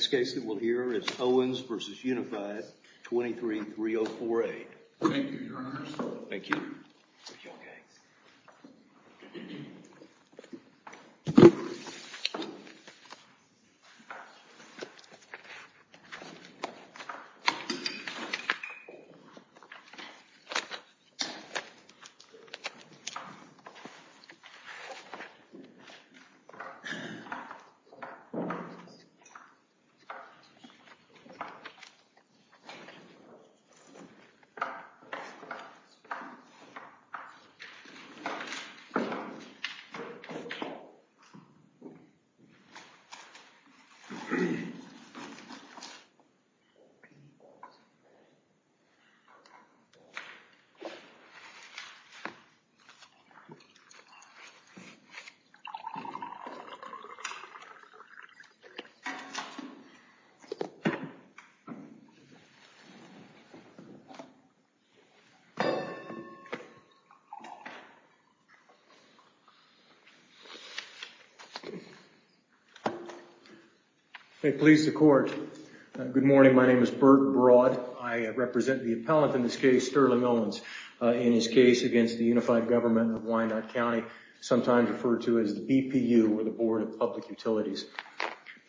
This case that we'll hear is Owens v. Unified, 23-3048. Thank you, Your Honor. Thank you. Thank you, Your Honor. Thank you, Your Honor. May it please the Court. Good morning, my name is Burt Broad. I represent the appellant in this case, Sterling Owens, in his case against the Unified Government of Wyandotte County, sometimes referred to as the BPU or the Board of Public Utilities.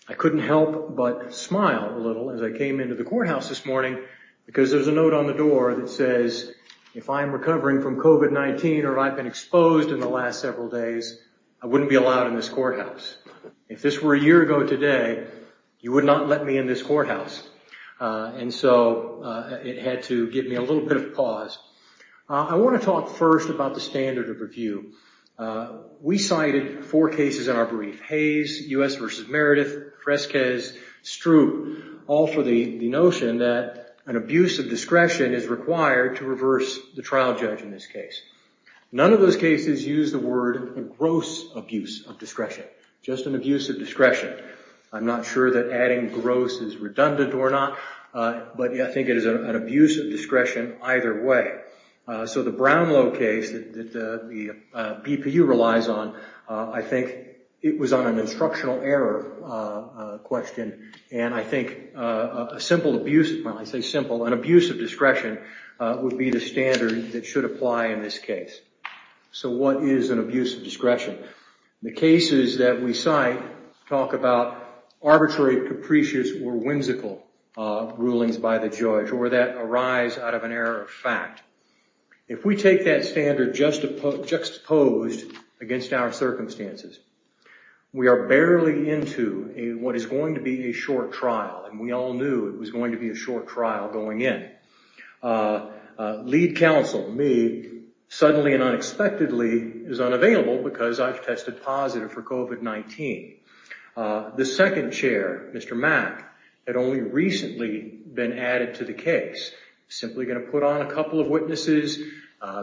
I couldn't help but smile a little as I came into the courthouse this morning because there's a note on the door that says, if I'm recovering from COVID-19 or I've been exposed in the last several days, I wouldn't be allowed in this courthouse. If this were a year ago today, you would not let me in this courthouse. And so it had to give me a little bit of pause. I want to talk first about the standard of review. We cited four cases in our brief, Hayes, U.S. v. Meredith, Fresquez, Stroop, all for the notion that an abuse of discretion is required to reverse the trial judge in this case. None of those cases use the word gross abuse of discretion, just an abuse of discretion. I'm not sure that adding gross is redundant or not, but I think it is an abuse of discretion either way. So the Brownlow case that the BPU relies on, I think it was on an instructional error question, and I think a simple abuse, well, I say simple, an abuse of discretion would be the standard that should apply in this case. So what is an abuse of discretion? The cases that we cite talk about arbitrary, capricious, or whimsical rulings by the judge or that arise out of an error of fact. If we take that standard juxtaposed against our circumstances, we are barely into what is going to be a short trial, and we all knew it was going to be a short trial going in. Lead counsel, me, suddenly and unexpectedly is unavailable because I've tested positive for COVID-19. The second chair, Mr. Mack, had only recently been added to the case, simply going to put on a couple of witnesses,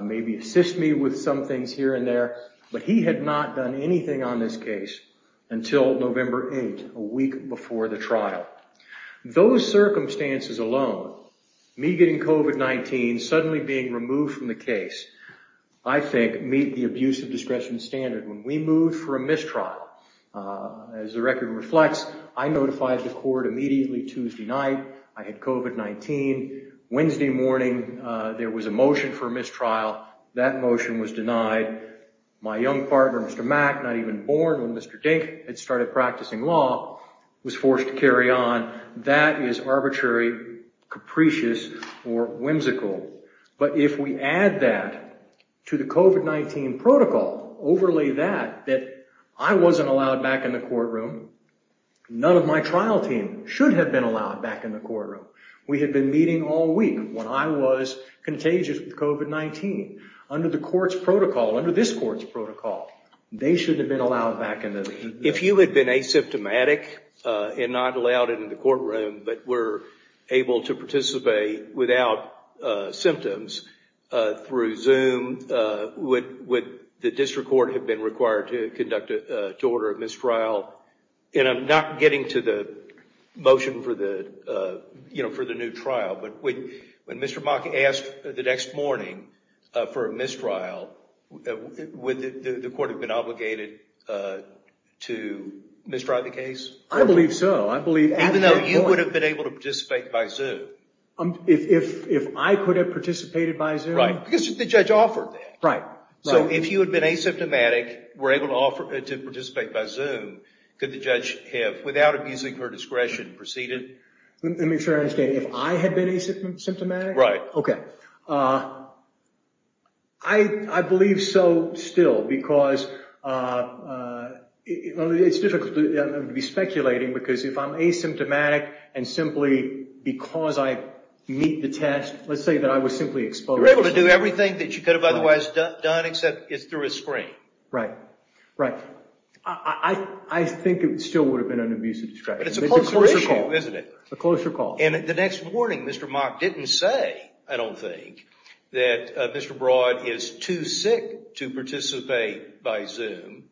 maybe assist me with some things here and there, but he had not done anything on this case until November 8th, a week before the trial. Those circumstances alone, me getting COVID-19, suddenly being removed from the case, I think meet the abuse of discretion standard. When we moved for a mistrial, as the record reflects, I notified the court immediately Tuesday night. I had COVID-19. Wednesday morning there was a motion for mistrial. That motion was denied. My young partner, Mr. Mack, not even born when Mr. Dink had started practicing law, was forced to carry on. That is arbitrary, capricious, or whimsical. But if we add that to the COVID-19 protocol, overlay that, that I wasn't allowed back in the courtroom. None of my trial team should have been allowed back in the courtroom. We had been meeting all week when I was contagious with COVID-19. Under the court's protocol, under this court's protocol, they should have been allowed back in the meeting. If you had been asymptomatic and not allowed into the courtroom, but were able to participate without symptoms through Zoom, would the district court have been required to conduct, to order a mistrial? And I'm not getting to the motion for the new trial, but when Mr. Mack asked the next morning for a mistrial, would the court have been obligated to mistrial the case? I believe so. Even though you would have been able to participate by Zoom? If I could have participated by Zoom? Because the judge offered that. So if you had been asymptomatic, were able to participate by Zoom, could the judge have, without abusing her discretion, proceeded? Let me make sure I understand. If I had been asymptomatic? Right. Okay. I believe so still because it's difficult to be speculating because if I'm asymptomatic and simply because I meet the test, let's say that I was simply exposed. You were able to do everything that you could have otherwise done except it's through a screen. Right. Right. I think it still would have been an abusive discretion. But it's a closer issue, isn't it? A closer call. And the next morning, Mr. Mack didn't say, I don't think, that Mr. Broad is too sick to participate by Zoom,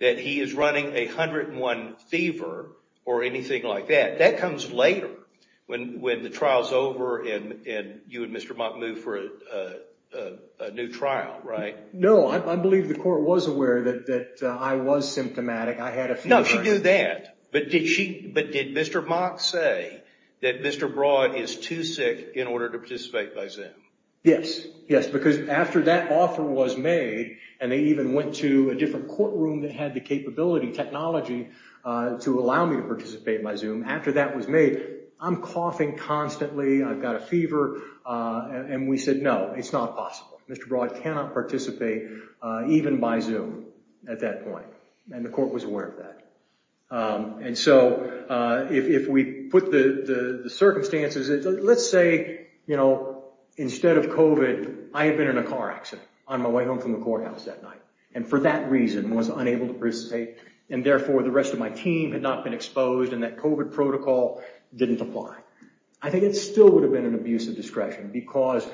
that he is running a 101 fever or anything like that. That comes later when the trial is over and you and Mr. Mack move for a new trial, right? No. I believe the court was aware that I was symptomatic. I had a fever. No, she knew that. But did Mr. Mack say that Mr. Broad is too sick in order to participate by Zoom? Yes. Yes. Because after that offer was made and they even went to a different courtroom that had the capability technology to allow me to participate by Zoom, after that was made, I'm coughing constantly. I've got a fever. And we said, no, it's not possible. Mr. Broad cannot participate even by Zoom at that point. And the court was aware of that. And so if we put the circumstances, let's say, you know, instead of COVID, I had been in a car accident on my way home from the courthouse that night and for that reason was unable to participate, and therefore the rest of my team had not been exposed and that COVID protocol didn't apply. I think it still would have been an abuse of discretion because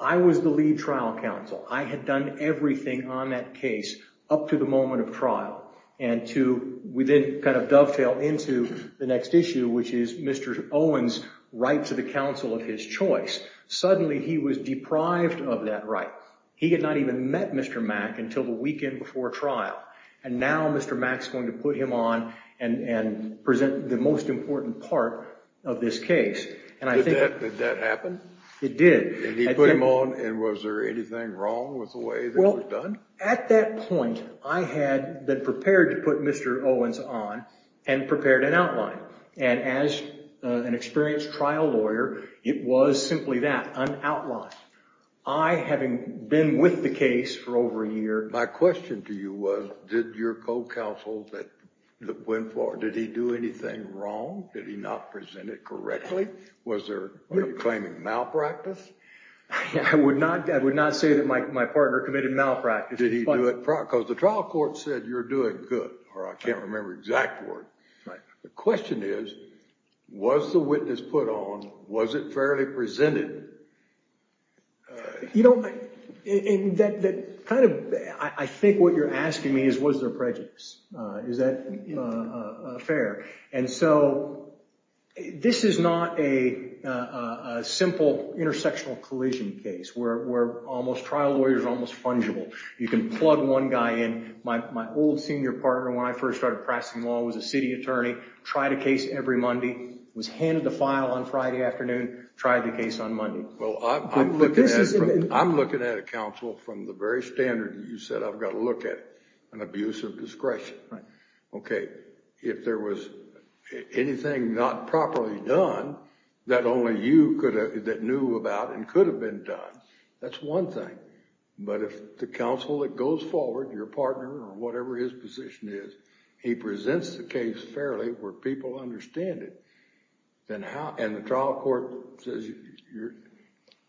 I was the lead trial counsel. I had done everything on that case up to the moment of trial and to then kind of dovetail into the next issue, which is Mr. Owens' right to the counsel of his choice. Suddenly he was deprived of that right. He had not even met Mr. Mack until the weekend before trial. And now Mr. Mack is going to put him on and present the most important part of this case. Did that happen? It did. And he put him on, and was there anything wrong with the way it was done? Well, at that point, I had been prepared to put Mr. Owens on and prepared an outline. And as an experienced trial lawyer, it was simply that, an outline. I, having been with the case for over a year. My question to you was, did your co-counsel that went forward, did he do anything wrong? Did he not present it correctly? Was there claiming malpractice? I would not say that my partner committed malpractice. Because the trial court said you're doing good, or I can't remember the exact word. Right. The question is, was the witness put on? Was it fairly presented? You know, that kind of, I think what you're asking me is, was there prejudice? Is that fair? And so this is not a simple intersectional collision case where almost trial lawyers are almost fungible. You can plug one guy in. My old senior partner, when I first started practicing law, was a city attorney. Tried a case every Monday. Was handed a file on Friday afternoon. Tried the case on Monday. Well, I'm looking at a counsel from the very standard that you said, I've got to look at an abuse of discretion. Okay. If there was anything not properly done that only you could have, that knew about and could have been done, that's one thing. But if the counsel that goes forward, your partner or whatever his position is, he presents the case fairly where people understand it. And the trial court says,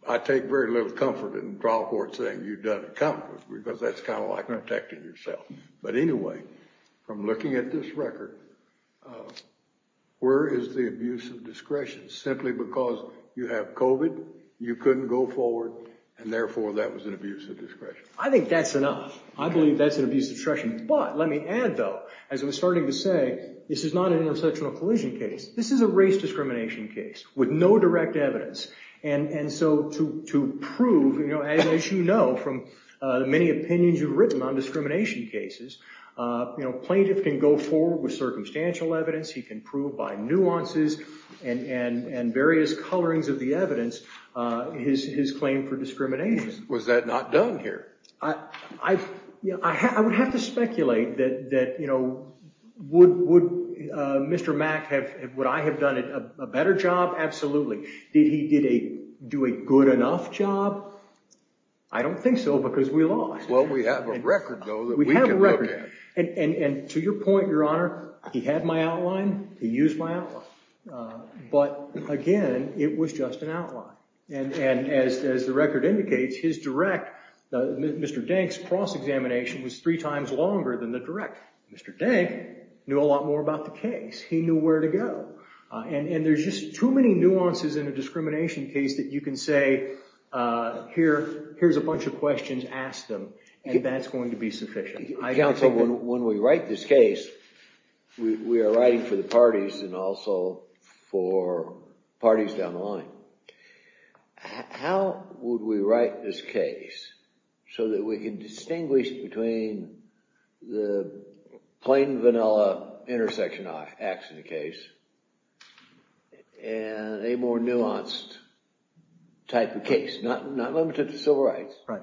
I take very little comfort in the trial court saying you've done it comfortably, because that's kind of like protecting yourself. But anyway, from looking at this record, where is the abuse of discretion? Simply because you have COVID, you couldn't go forward, and therefore that was an abuse of discretion. I think that's enough. I believe that's an abuse of discretion. But let me add, though, as I was starting to say, this is not an intersectional collision case. This is a race discrimination case with no direct evidence. And so to prove, as you know from many opinions you've written on discrimination cases, plaintiff can go forward with circumstantial evidence. He can prove by nuances and various colorings of the evidence his claim for discrimination. Was that not done here? I would have to speculate that would Mr. Mack have, would I have done a better job? Absolutely. Did he do a good enough job? I don't think so, because we lost. Well, we have a record, though, that we can look at. We have a record. And to your point, Your Honor, he had my outline. He used my outline. But again, it was just an outline. And as the record indicates, his direct, Mr. Denk's cross-examination was three times longer than the direct. Mr. Denk knew a lot more about the case. He knew where to go. And there's just too many nuances in a discrimination case that you can say, here's a bunch of questions, ask them, and that's going to be sufficient. Counsel, when we write this case, we are writing for the parties and also for parties down the line. How would we write this case so that we can distinguish between the plain vanilla intersection action case and a more nuanced type of case, not limited to civil rights? Right.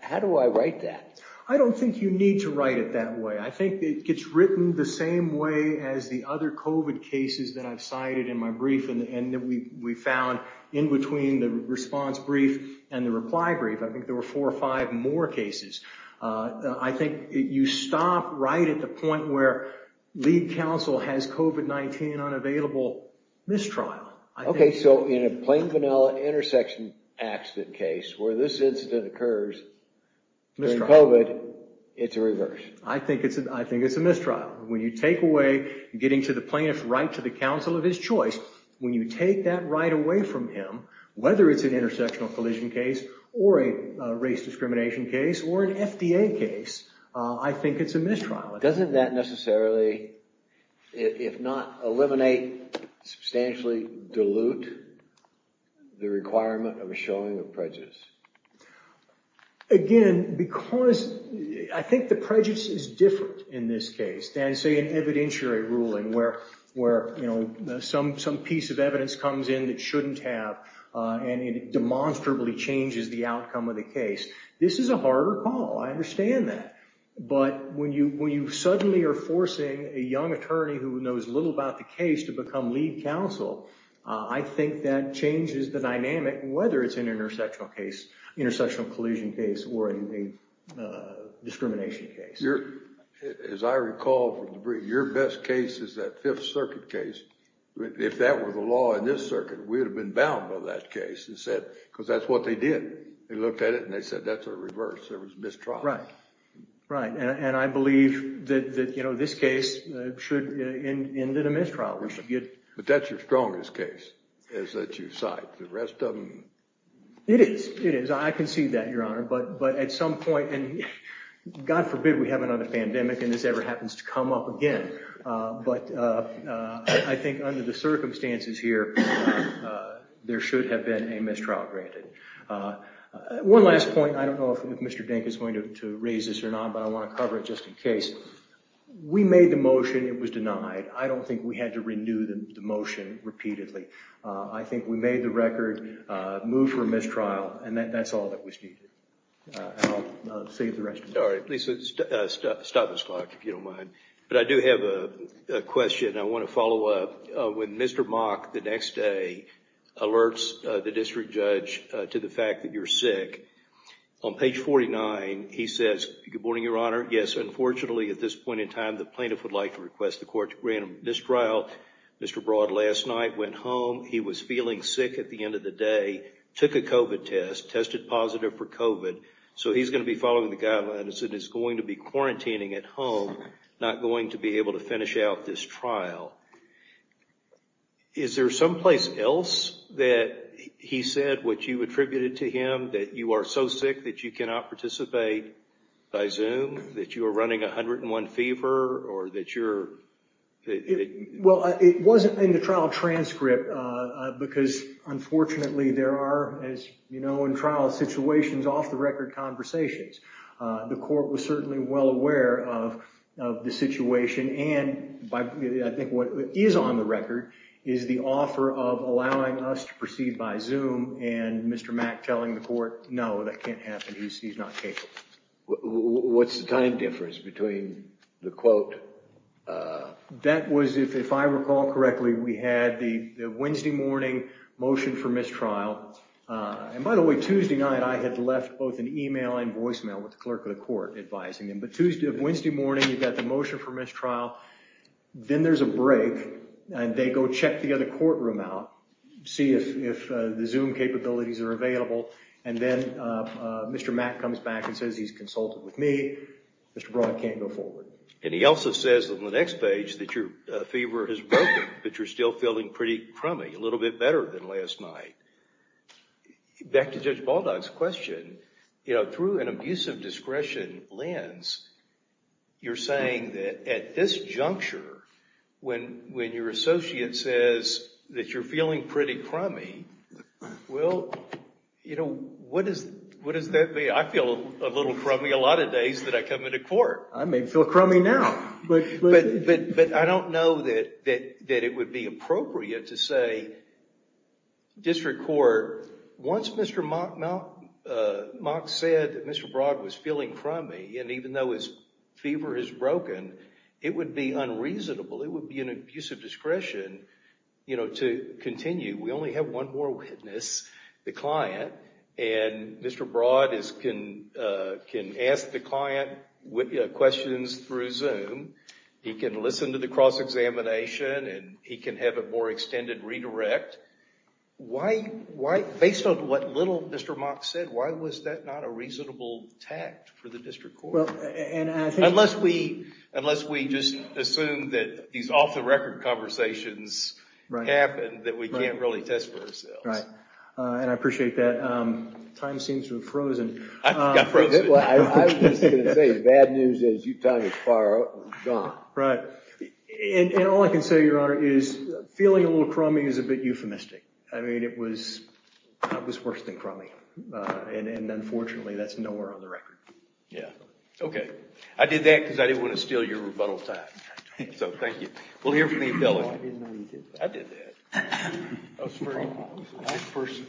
How do I write that? I don't think you need to write it that way. I think it gets written the same way as the other COVID cases that I've cited in my brief and that we found in between the response brief and the reply brief. I think there were four or five more cases. I think you stop right at the point where lead counsel has COVID-19 unavailable mistrial. Okay, so in a plain vanilla intersection accident case where this incident occurs during COVID, it's a reverse. I think it's a mistrial. When you take away getting to the plaintiff's right to the counsel of his choice, when you take that right away from him, whether it's an intersectional collision case or a race discrimination case or an FDA case, I think it's a mistrial. Doesn't that necessarily, if not eliminate, substantially dilute the requirement of a showing of prejudice? Again, because I think the prejudice is different in this case than say an evidentiary ruling where some piece of evidence comes in that shouldn't have and it demonstrably changes the outcome of the case. This is a harder call. I understand that. But when you suddenly are forcing a young attorney who knows little about the case to become lead counsel, I think that changes the dynamic, whether it's an intersectional collision case or a discrimination case. As I recall, your best case is that Fifth Circuit case. If that were the law in this circuit, we would have been bound by that case because that's what they did. They looked at it and they said that's a reverse. There was mistrial. Right, and I believe that this case should end in a mistrial. But that's your strongest case that you cite. The rest of them... It is. It is. I can see that, Your Honor. But at some point, and God forbid we have another pandemic and this ever happens to come up again. But I think under the circumstances here, there should have been a mistrial granted. One last point. I don't know if Mr. Dink is going to raise this or not, but I want to cover it just in case. We made the motion. It was denied. I don't think we had to renew the motion repeatedly. I think we made the record, moved for a mistrial, and that's all that was needed. I'll save the rest of it. All right. Please stop this clock if you don't mind. But I do have a question. I want to follow up. When Mr. Mock, the next day, alerts the district judge to the fact that you're sick, on page 49, he says, Good morning, Your Honor. Yes, unfortunately, at this point in time, the plaintiff would like to request the court to grant a mistrial. Mr. Broad, last night, went home. He was feeling sick at the end of the day, took a COVID test, tested positive for COVID, so he's going to be following the guidelines and is going to be quarantining at home, not going to be able to finish out this trial. Is there someplace else that he said, which you attributed to him, that you are so sick that you cannot participate by Zoom, that you are running a 101 fever, or that you're – Well, it wasn't in the trial transcript, because unfortunately there are, as you know, in trial situations, off-the-record conversations. The court was certainly well aware of the situation, and I think what is on the record is the offer of allowing us to proceed by Zoom and Mr. Mack telling the court, no, that can't happen. He's not capable. What's the time difference between the quote – That was, if I recall correctly, we had the Wednesday morning motion for mistrial. And by the way, Tuesday night I had left both an email and voicemail with the clerk of the court advising him. But Tuesday – Wednesday morning, you've got the motion for mistrial. Then there's a break, and they go check the other courtroom out, see if the Zoom capabilities are available, and then Mr. Mack comes back and says he's consulted with me. Mr. Broad can't go forward. And he also says on the next page that your fever has broken, but you're still feeling pretty crummy, a little bit better than last night. Back to Judge Baldock's question, you know, through an abusive discretion lens, you're saying that at this juncture, when your associate says that you're feeling pretty crummy, well, you know, what does that mean? I feel a little crummy a lot of days that I come into court. I may feel crummy now. But I don't know that it would be appropriate to say district court, once Mr. Mack said that Mr. Broad was feeling crummy, and even though his fever has broken, it would be unreasonable. It would be an abusive discretion, you know, to continue. We only have one more witness, the client, and Mr. Broad can ask the client questions through Zoom. He can listen to the cross-examination, and he can have a more extended redirect. Based on what little Mr. Mack said, why was that not a reasonable tact for the district court? Unless we just assume that these off-the-record conversations happen, that we can't really test for ourselves. Right, and I appreciate that. Time seems to have frozen. I was just going to say, bad news is Utah is far gone. Right. And all I can say, Your Honor, is feeling a little crummy is a bit euphemistic. I mean, it was worse than crummy. And unfortunately, that's nowhere on the record. Yeah. Okay. I did that because I didn't want to steal your rebuttal time. So thank you. We'll hear from you, fellas. I did that. That was very nice. Nice person.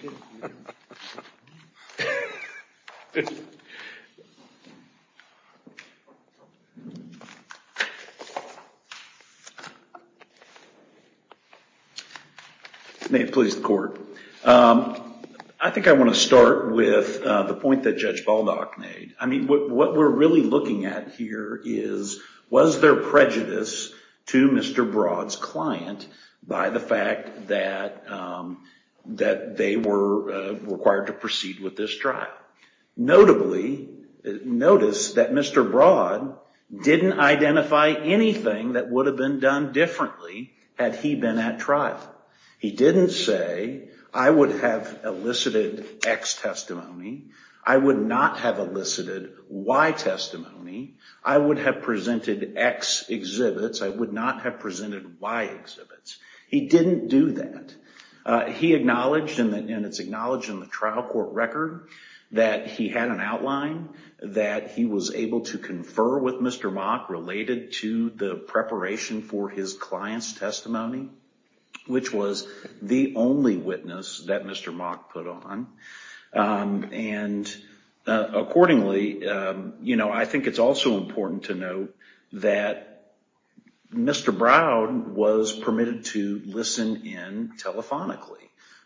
May it please the court. I think I want to start with the point that Judge Baldock made. I mean, what we're really looking at here is, was there prejudice to Mr. Broad's client by the fact that they were required to proceed with this trial? Notably, notice that Mr. Broad didn't identify anything that would have been done differently had he been at trial. He didn't say, I would have elicited X testimony. I would not have elicited Y testimony. I would have presented X exhibits. I would not have presented Y exhibits. He didn't do that. He acknowledged, and it's acknowledged in the trial court record, that he had an outline that he was able to confer with Mr. Mock related to the preparation for his client's testimony, which was the only witness that Mr. Mock put on. Accordingly, I think it's also important to note that Mr. Broad was permitted to listen in telephonically.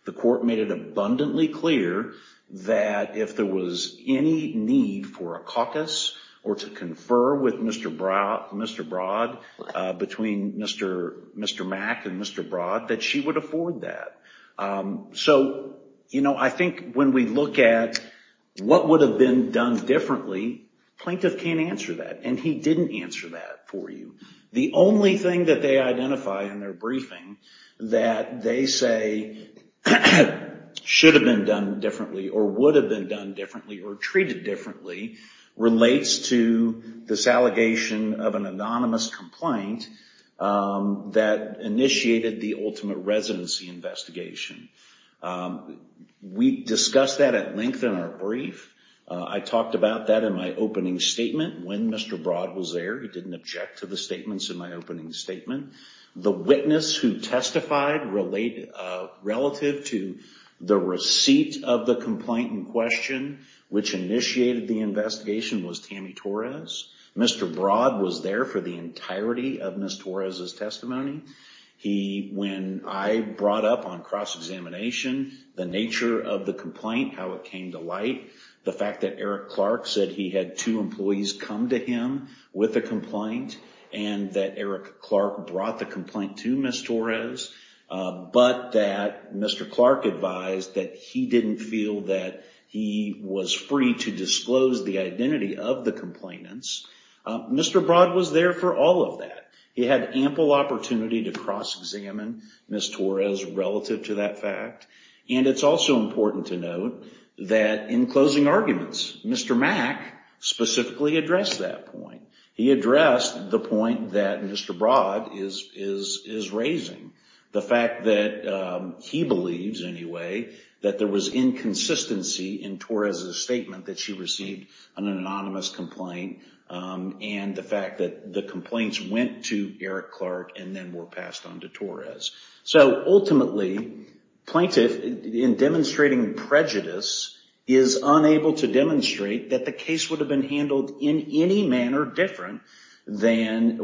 The court made it abundantly clear that if there was any need for a caucus or to confer with Mr. Broad between Mr. Mack and Mr. Broad, that she would afford that. I think when we look at what would have been done differently, plaintiff can't answer that, and he didn't answer that for you. The only thing that they identify in their briefing that they say should have been done differently or would have been done differently or treated differently relates to this allegation of an anonymous complaint that initiated the ultimate residency investigation. We discussed that at length in our brief. I talked about that in my opening statement when Mr. Broad was there. He didn't object to the statements in my opening statement. The witness who testified relative to the receipt of the complaint in question, which initiated the investigation, was Tammy Torres. Mr. Broad was there for the entirety of Ms. Torres' testimony. When I brought up on cross-examination the nature of the complaint, how it came to light, the fact that Eric Clark said he had two employees come to him with a complaint and that Eric Clark brought the complaint to Ms. Torres, but that Mr. Clark advised that he didn't feel that he was free to disclose the identity of the complainants, Mr. Broad was there for all of that. He had ample opportunity to cross-examine Ms. Torres relative to that fact, and it's also important to note that in closing arguments, Mr. Mack specifically addressed that point. He addressed the point that Mr. Broad is raising, the fact that he believes, anyway, that there was inconsistency in Torres' statement that she received an anonymous complaint, and the fact that the complaints went to Eric Clark and then were passed on to Torres. So ultimately, plaintiff, in demonstrating prejudice, is unable to demonstrate that the case would have been handled in any manner different than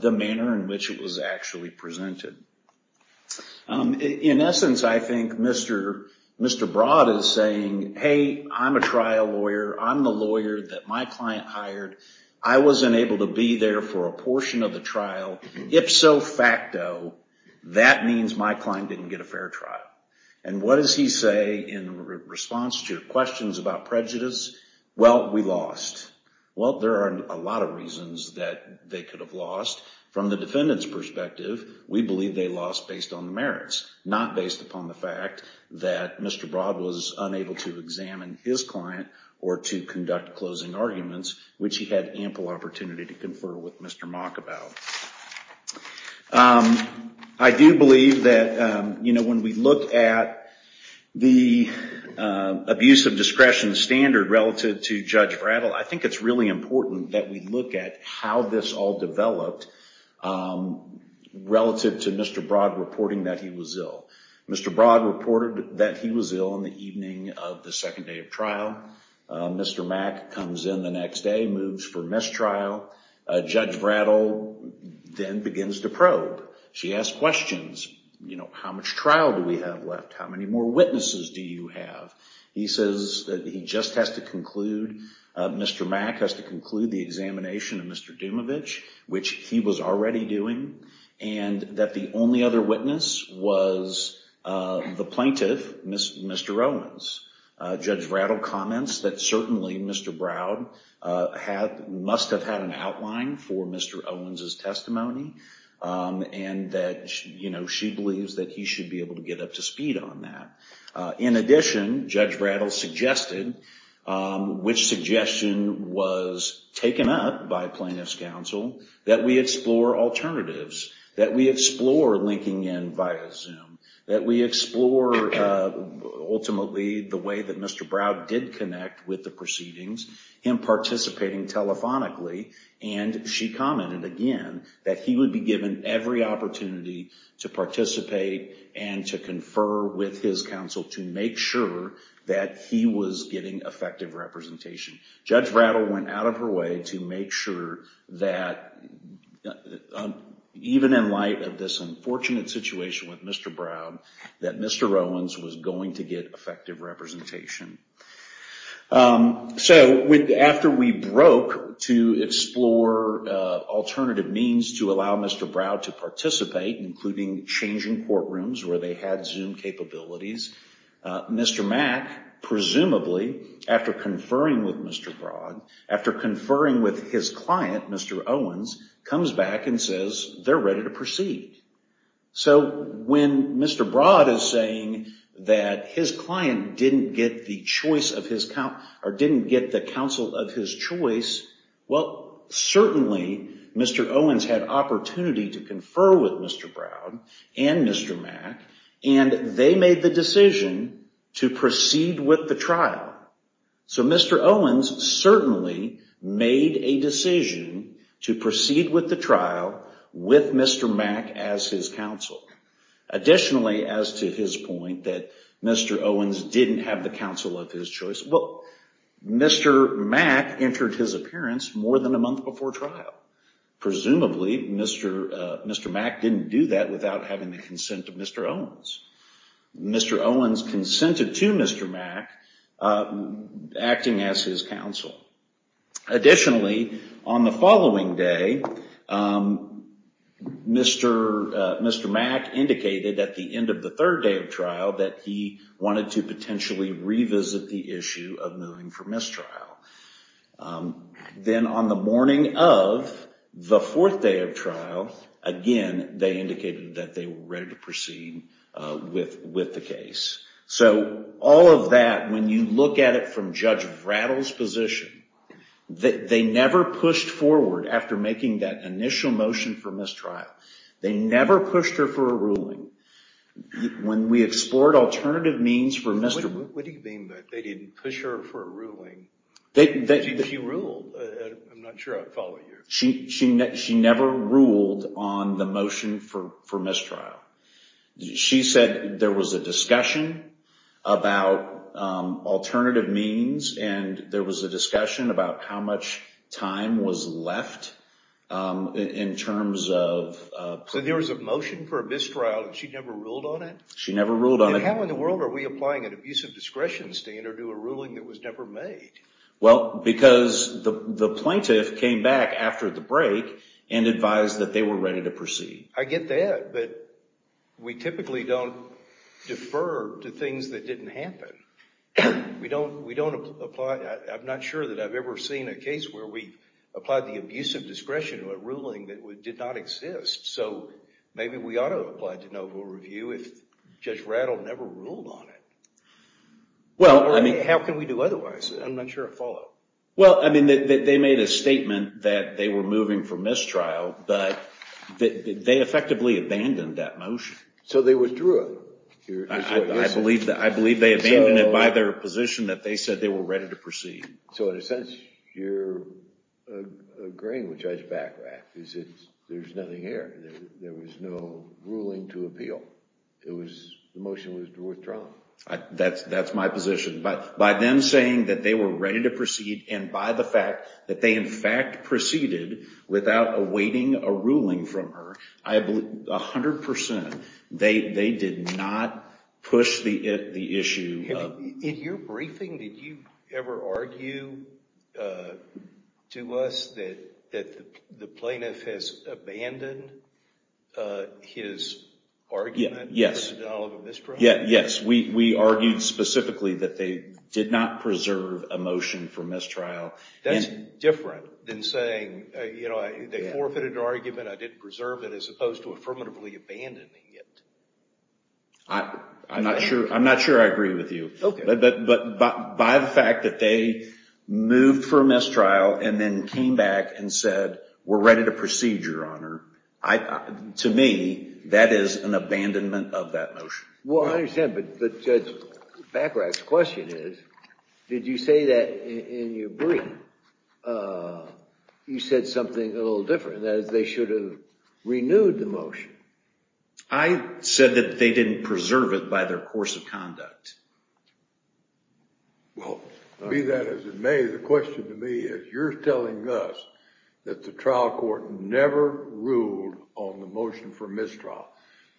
the manner in which it was actually presented. In essence, I think Mr. Broad is saying, hey, I'm a trial lawyer. I'm the lawyer that my client hired. I wasn't able to be there for a portion of the trial. If so facto, that means my client didn't get a fair trial. And what does he say in response to your questions about prejudice? Well, we lost. Well, there are a lot of reasons that they could have lost. From the defendant's perspective, we believe they lost based on the merits, not based upon the fact that Mr. Broad was unable to examine his client or to conduct closing arguments, which he had ample opportunity to confer with Mr. Mack about. I do believe that when we look at the abuse of discretion standard relative to Judge Brattle, I think it's really important that we look at how this all developed relative to Mr. Broad reporting that he was ill. Mr. Broad reported that he was ill on the evening of the second day of trial. Mr. Mack comes in the next day, moves for mistrial. Judge Brattle then begins to probe. She asks questions. How much trial do we have left? How many more witnesses do you have? He says that he just has to conclude, Mr. Mack has to conclude the examination of Mr. Dumovic, which he was already doing, and that the only other witness was the plaintiff, Mr. Owens. Judge Brattle comments that certainly Mr. Broad must have had an outline for Mr. Owens' testimony, and that she believes that he should be able to get up to speed on that. In addition, Judge Brattle suggested, which suggestion was taken up by plaintiff's counsel, that we explore alternatives, that we explore linking in via Zoom, that we explore, ultimately, the way that Mr. Broad did connect with the proceedings, him participating telephonically, and she commented again that he would be given every opportunity to participate and to confer with his counsel to make sure that he was getting effective representation. Judge Brattle went out of her way to make sure that, even in light of this unfortunate situation with Mr. Broad, that Mr. Owens was going to get effective representation. So, after we broke to explore alternative means to allow Mr. Broad to participate, including changing courtrooms where they had Zoom capabilities, Mr. Mack, presumably, after conferring with Mr. Broad, after conferring with his client, Mr. Owens, comes back and says they're ready to proceed. So, when Mr. Broad is saying that his client didn't get the counsel of his choice, well, certainly, Mr. Owens had opportunity to confer with Mr. Broad and Mr. Mack, and they made the decision to proceed with the trial. So, Mr. Owens certainly made a decision to proceed with the trial with Mr. Mack as his counsel. Additionally, as to his point that Mr. Owens didn't have the counsel of his choice, well, Mr. Mack entered his appearance more than a month before trial. Presumably, Mr. Mack didn't do that without having the consent of Mr. Owens. Mr. Owens consented to Mr. Mack acting as his counsel. Additionally, on the following day, Mr. Mack indicated at the end of the third day of trial that he wanted to potentially revisit the issue of moving for mistrial. Then, on the morning of the fourth day of trial, again, they indicated that they were ready to proceed with the case. So, all of that, when you look at it from Judge Vratil's position, they never pushed forward after making that initial motion for mistrial. They never pushed her for a ruling. When we explored alternative means for mistrial... What do you mean that they didn't push her for a ruling? She ruled. I'm not sure I follow you. She never ruled on the motion for mistrial. She said there was a discussion about alternative means and there was a discussion about how much time was left in terms of... So, there was a motion for a mistrial and she never ruled on it? She never ruled on it. How in the world are we applying an abusive discretion standard to a ruling that was never made? Well, because the plaintiff came back after the break and advised that they were ready to proceed. I get that, but we typically don't defer to things that didn't happen. We don't apply... I'm not sure that I've ever seen a case where we applied the abusive discretion to a ruling that did not exist. So, maybe we ought to apply to no full review if Judge Vratil never ruled on it. Well, I mean... How can we do otherwise? I'm not sure I follow. Well, I mean, they made a statement that they were moving for mistrial, but they effectively abandoned that motion. So, they withdrew it? I believe they abandoned it by their position that they said they were ready to proceed. So, in a sense, you're agreeing with Judge Vratil. There's nothing here. There was no ruling to appeal. The motion was withdrawn. That's my position. By them saying that they were ready to proceed and by the fact that they, in fact, proceeded without awaiting a ruling from her, I believe 100% they did not push the issue. In your briefing, did you ever argue to us that the plaintiff has abandoned his argument for the denial of a mistrial? Yes, we argued specifically that they did not preserve a motion for mistrial. That's different than saying, you know, they forfeited an argument, I didn't preserve it, as opposed to affirmatively abandoning it. I'm not sure I agree with you. But by the fact that they moved for mistrial and then came back and said, we're ready to proceed, Your Honor, to me, that is an abandonment of that motion. Well, I understand, but Judge Bacarach's question is, did you say that in your briefing? You said something a little different. That is, they should have renewed the motion. I said that they didn't preserve it by their course of conduct. Well, be that as it may, the question to me is, you're telling us that the trial court never ruled on the motion for mistrial.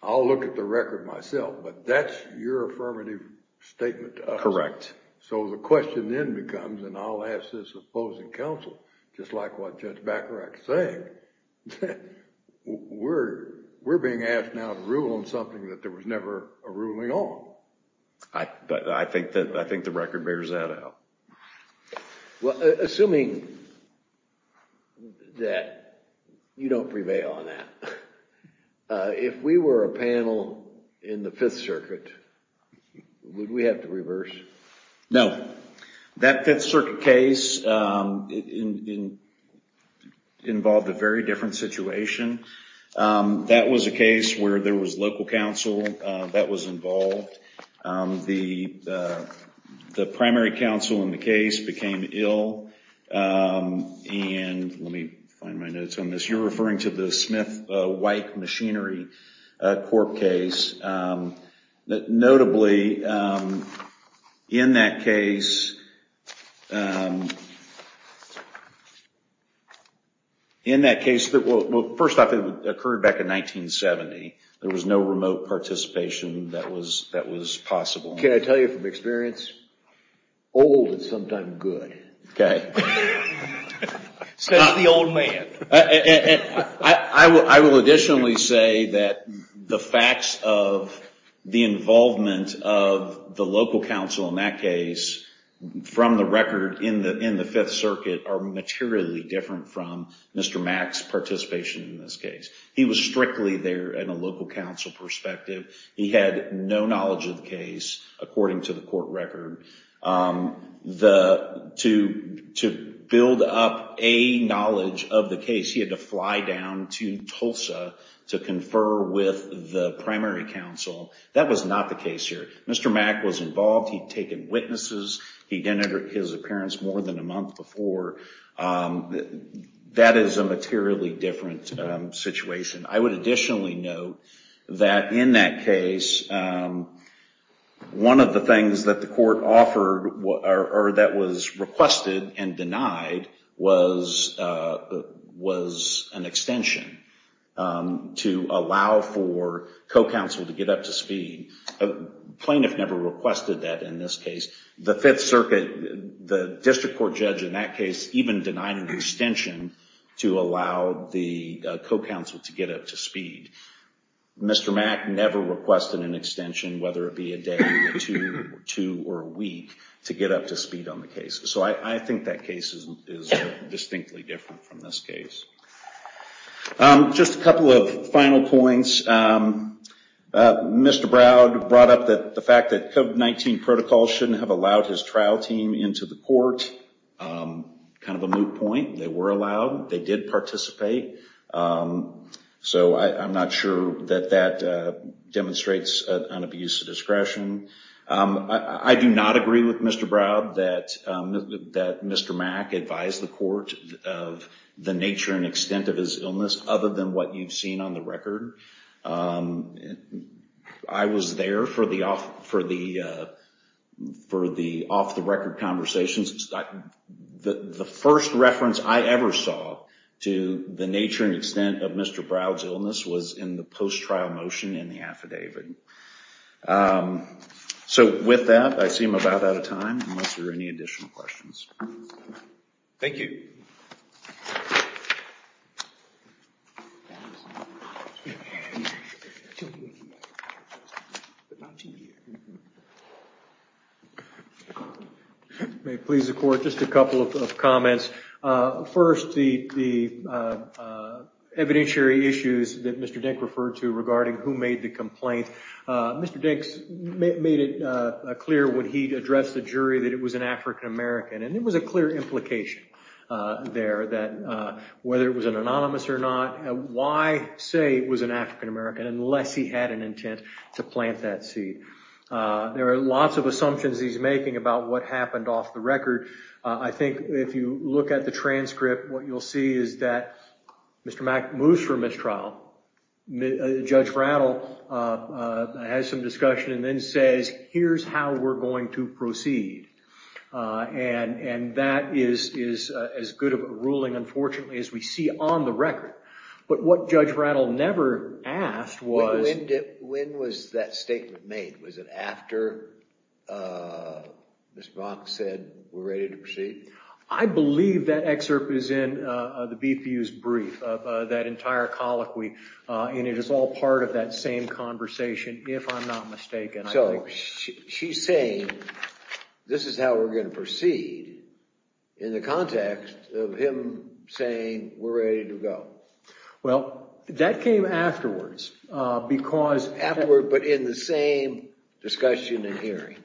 I'll look at the record myself, but that's your affirmative statement to us. Correct. So the question then becomes, and I'll ask this opposing counsel, just like what Judge Bacarach is saying, we're being asked now to rule on something that there was never a ruling on. I think the record bears that out. Well, assuming that you don't prevail on that, if we were a panel in the Fifth Circuit, would we have to reverse? No. That Fifth Circuit case involved a very different situation. That was a case where there was local counsel that was involved. The primary counsel in the case became ill. Let me find my notes on this. You're referring to the Smith-Wike Machinery Corp case. Notably, in that case, first off, it occurred back in 1970. There was no remote participation that was possible. Can I tell you from experience? Old is sometimes good. Not the old man. I will additionally say that the facts of the involvement of the local counsel in that case, from the record in the Fifth Circuit, are materially different from Mr. Mach's participation in this case. He was strictly there in a local counsel perspective. He had no knowledge of the case, according to the court record. To build up a knowledge of the case, he had to fly down to Tulsa to confer with the primary counsel. That was not the case here. Mr. Mach was involved. He'd taken witnesses. He'd entered his appearance more than a month before. That is a materially different situation. I would additionally note that in that case, one of the things that the court offered, or that was requested and denied, was an extension to allow for co-counsel to get up to speed. The plaintiff never requested that in this case. The Fifth Circuit, the district court judge in that case, even denied an extension to allow the co-counsel to get up to speed. Mr. Mach never requested an extension, whether it be a day or two or a week, to get up to speed on the case. I think that case is distinctly different from this case. Just a couple of final points. Mr. Browd brought up the fact that COVID-19 protocols shouldn't have allowed his trial team into the court. Kind of a moot point. They were allowed. They did participate. I'm not sure that that demonstrates an abuse of discretion. I do not agree with Mr. Browd that Mr. Mach advised the court of the nature and extent of his illness, other than what you've seen on the record. I was there for the off-the-record conversations. The first reference I ever saw to the nature and extent of Mr. Browd's illness was in the post-trial motion in the affidavit. So with that, I seem about out of time, unless there are any additional questions. Thank you. Thank you. May it please the court, just a couple of comments. First, the evidentiary issues that Mr. Dink referred to regarding who made the complaint. Mr. Dink made it clear when he addressed the jury that it was an African-American. And there was a clear implication there that whether it was an anonymous or not, why say it was an African-American unless he had an intent to plant that seed. There are lots of assumptions he's making about what happened off the record. I think if you look at the transcript, what you'll see is that Mr. Mach moves from this trial. Judge Rattle has some discussion and then says, here's how we're going to proceed. And that is as good of a ruling, unfortunately, as we see on the record. But what Judge Rattle never asked was. When was that statement made? Was it after Ms. Brock said we're ready to proceed? I believe that excerpt is in the BPU's brief, that entire colloquy. And it is all part of that same conversation, if I'm not mistaken. So she's saying, this is how we're going to proceed in the context of him saying we're ready to go. Well, that came afterwards because. Afterward, but in the same discussion and hearing.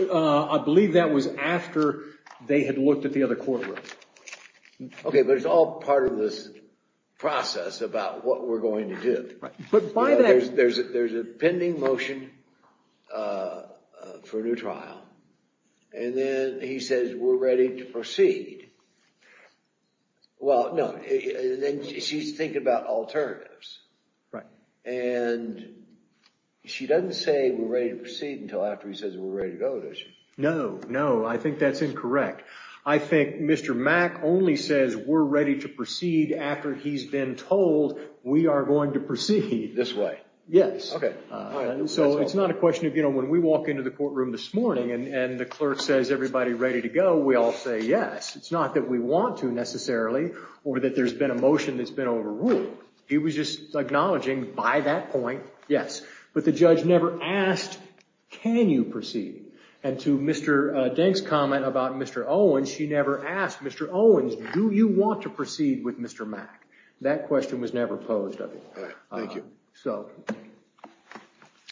I believe that was after they had looked at the other courtroom. Okay. But it's all part of this process about what we're going to do. There's a pending motion for a new trial. And then he says we're ready to proceed. Well, no, she's thinking about alternatives. Right. And she doesn't say we're ready to proceed until after he says we're ready to go. Does she? No, no, I think that's incorrect. I think Mr. Mac only says we're ready to proceed after he's been told we are going to proceed this way. Yes. Okay. So it's not a question of, you know, when we walk into the courtroom this morning and the clerk says, everybody ready to go, we all say, yes. It's not that we want to necessarily, or that there's been a motion that's been overruled. He was just acknowledging by that point. Yes. But the judge never asked, can you proceed? And to Mr. Denk's comment about Mr. Owens, she never asked Mr. Owens, do you want to proceed with Mr. Mac? That question was never posed. Thank you. So.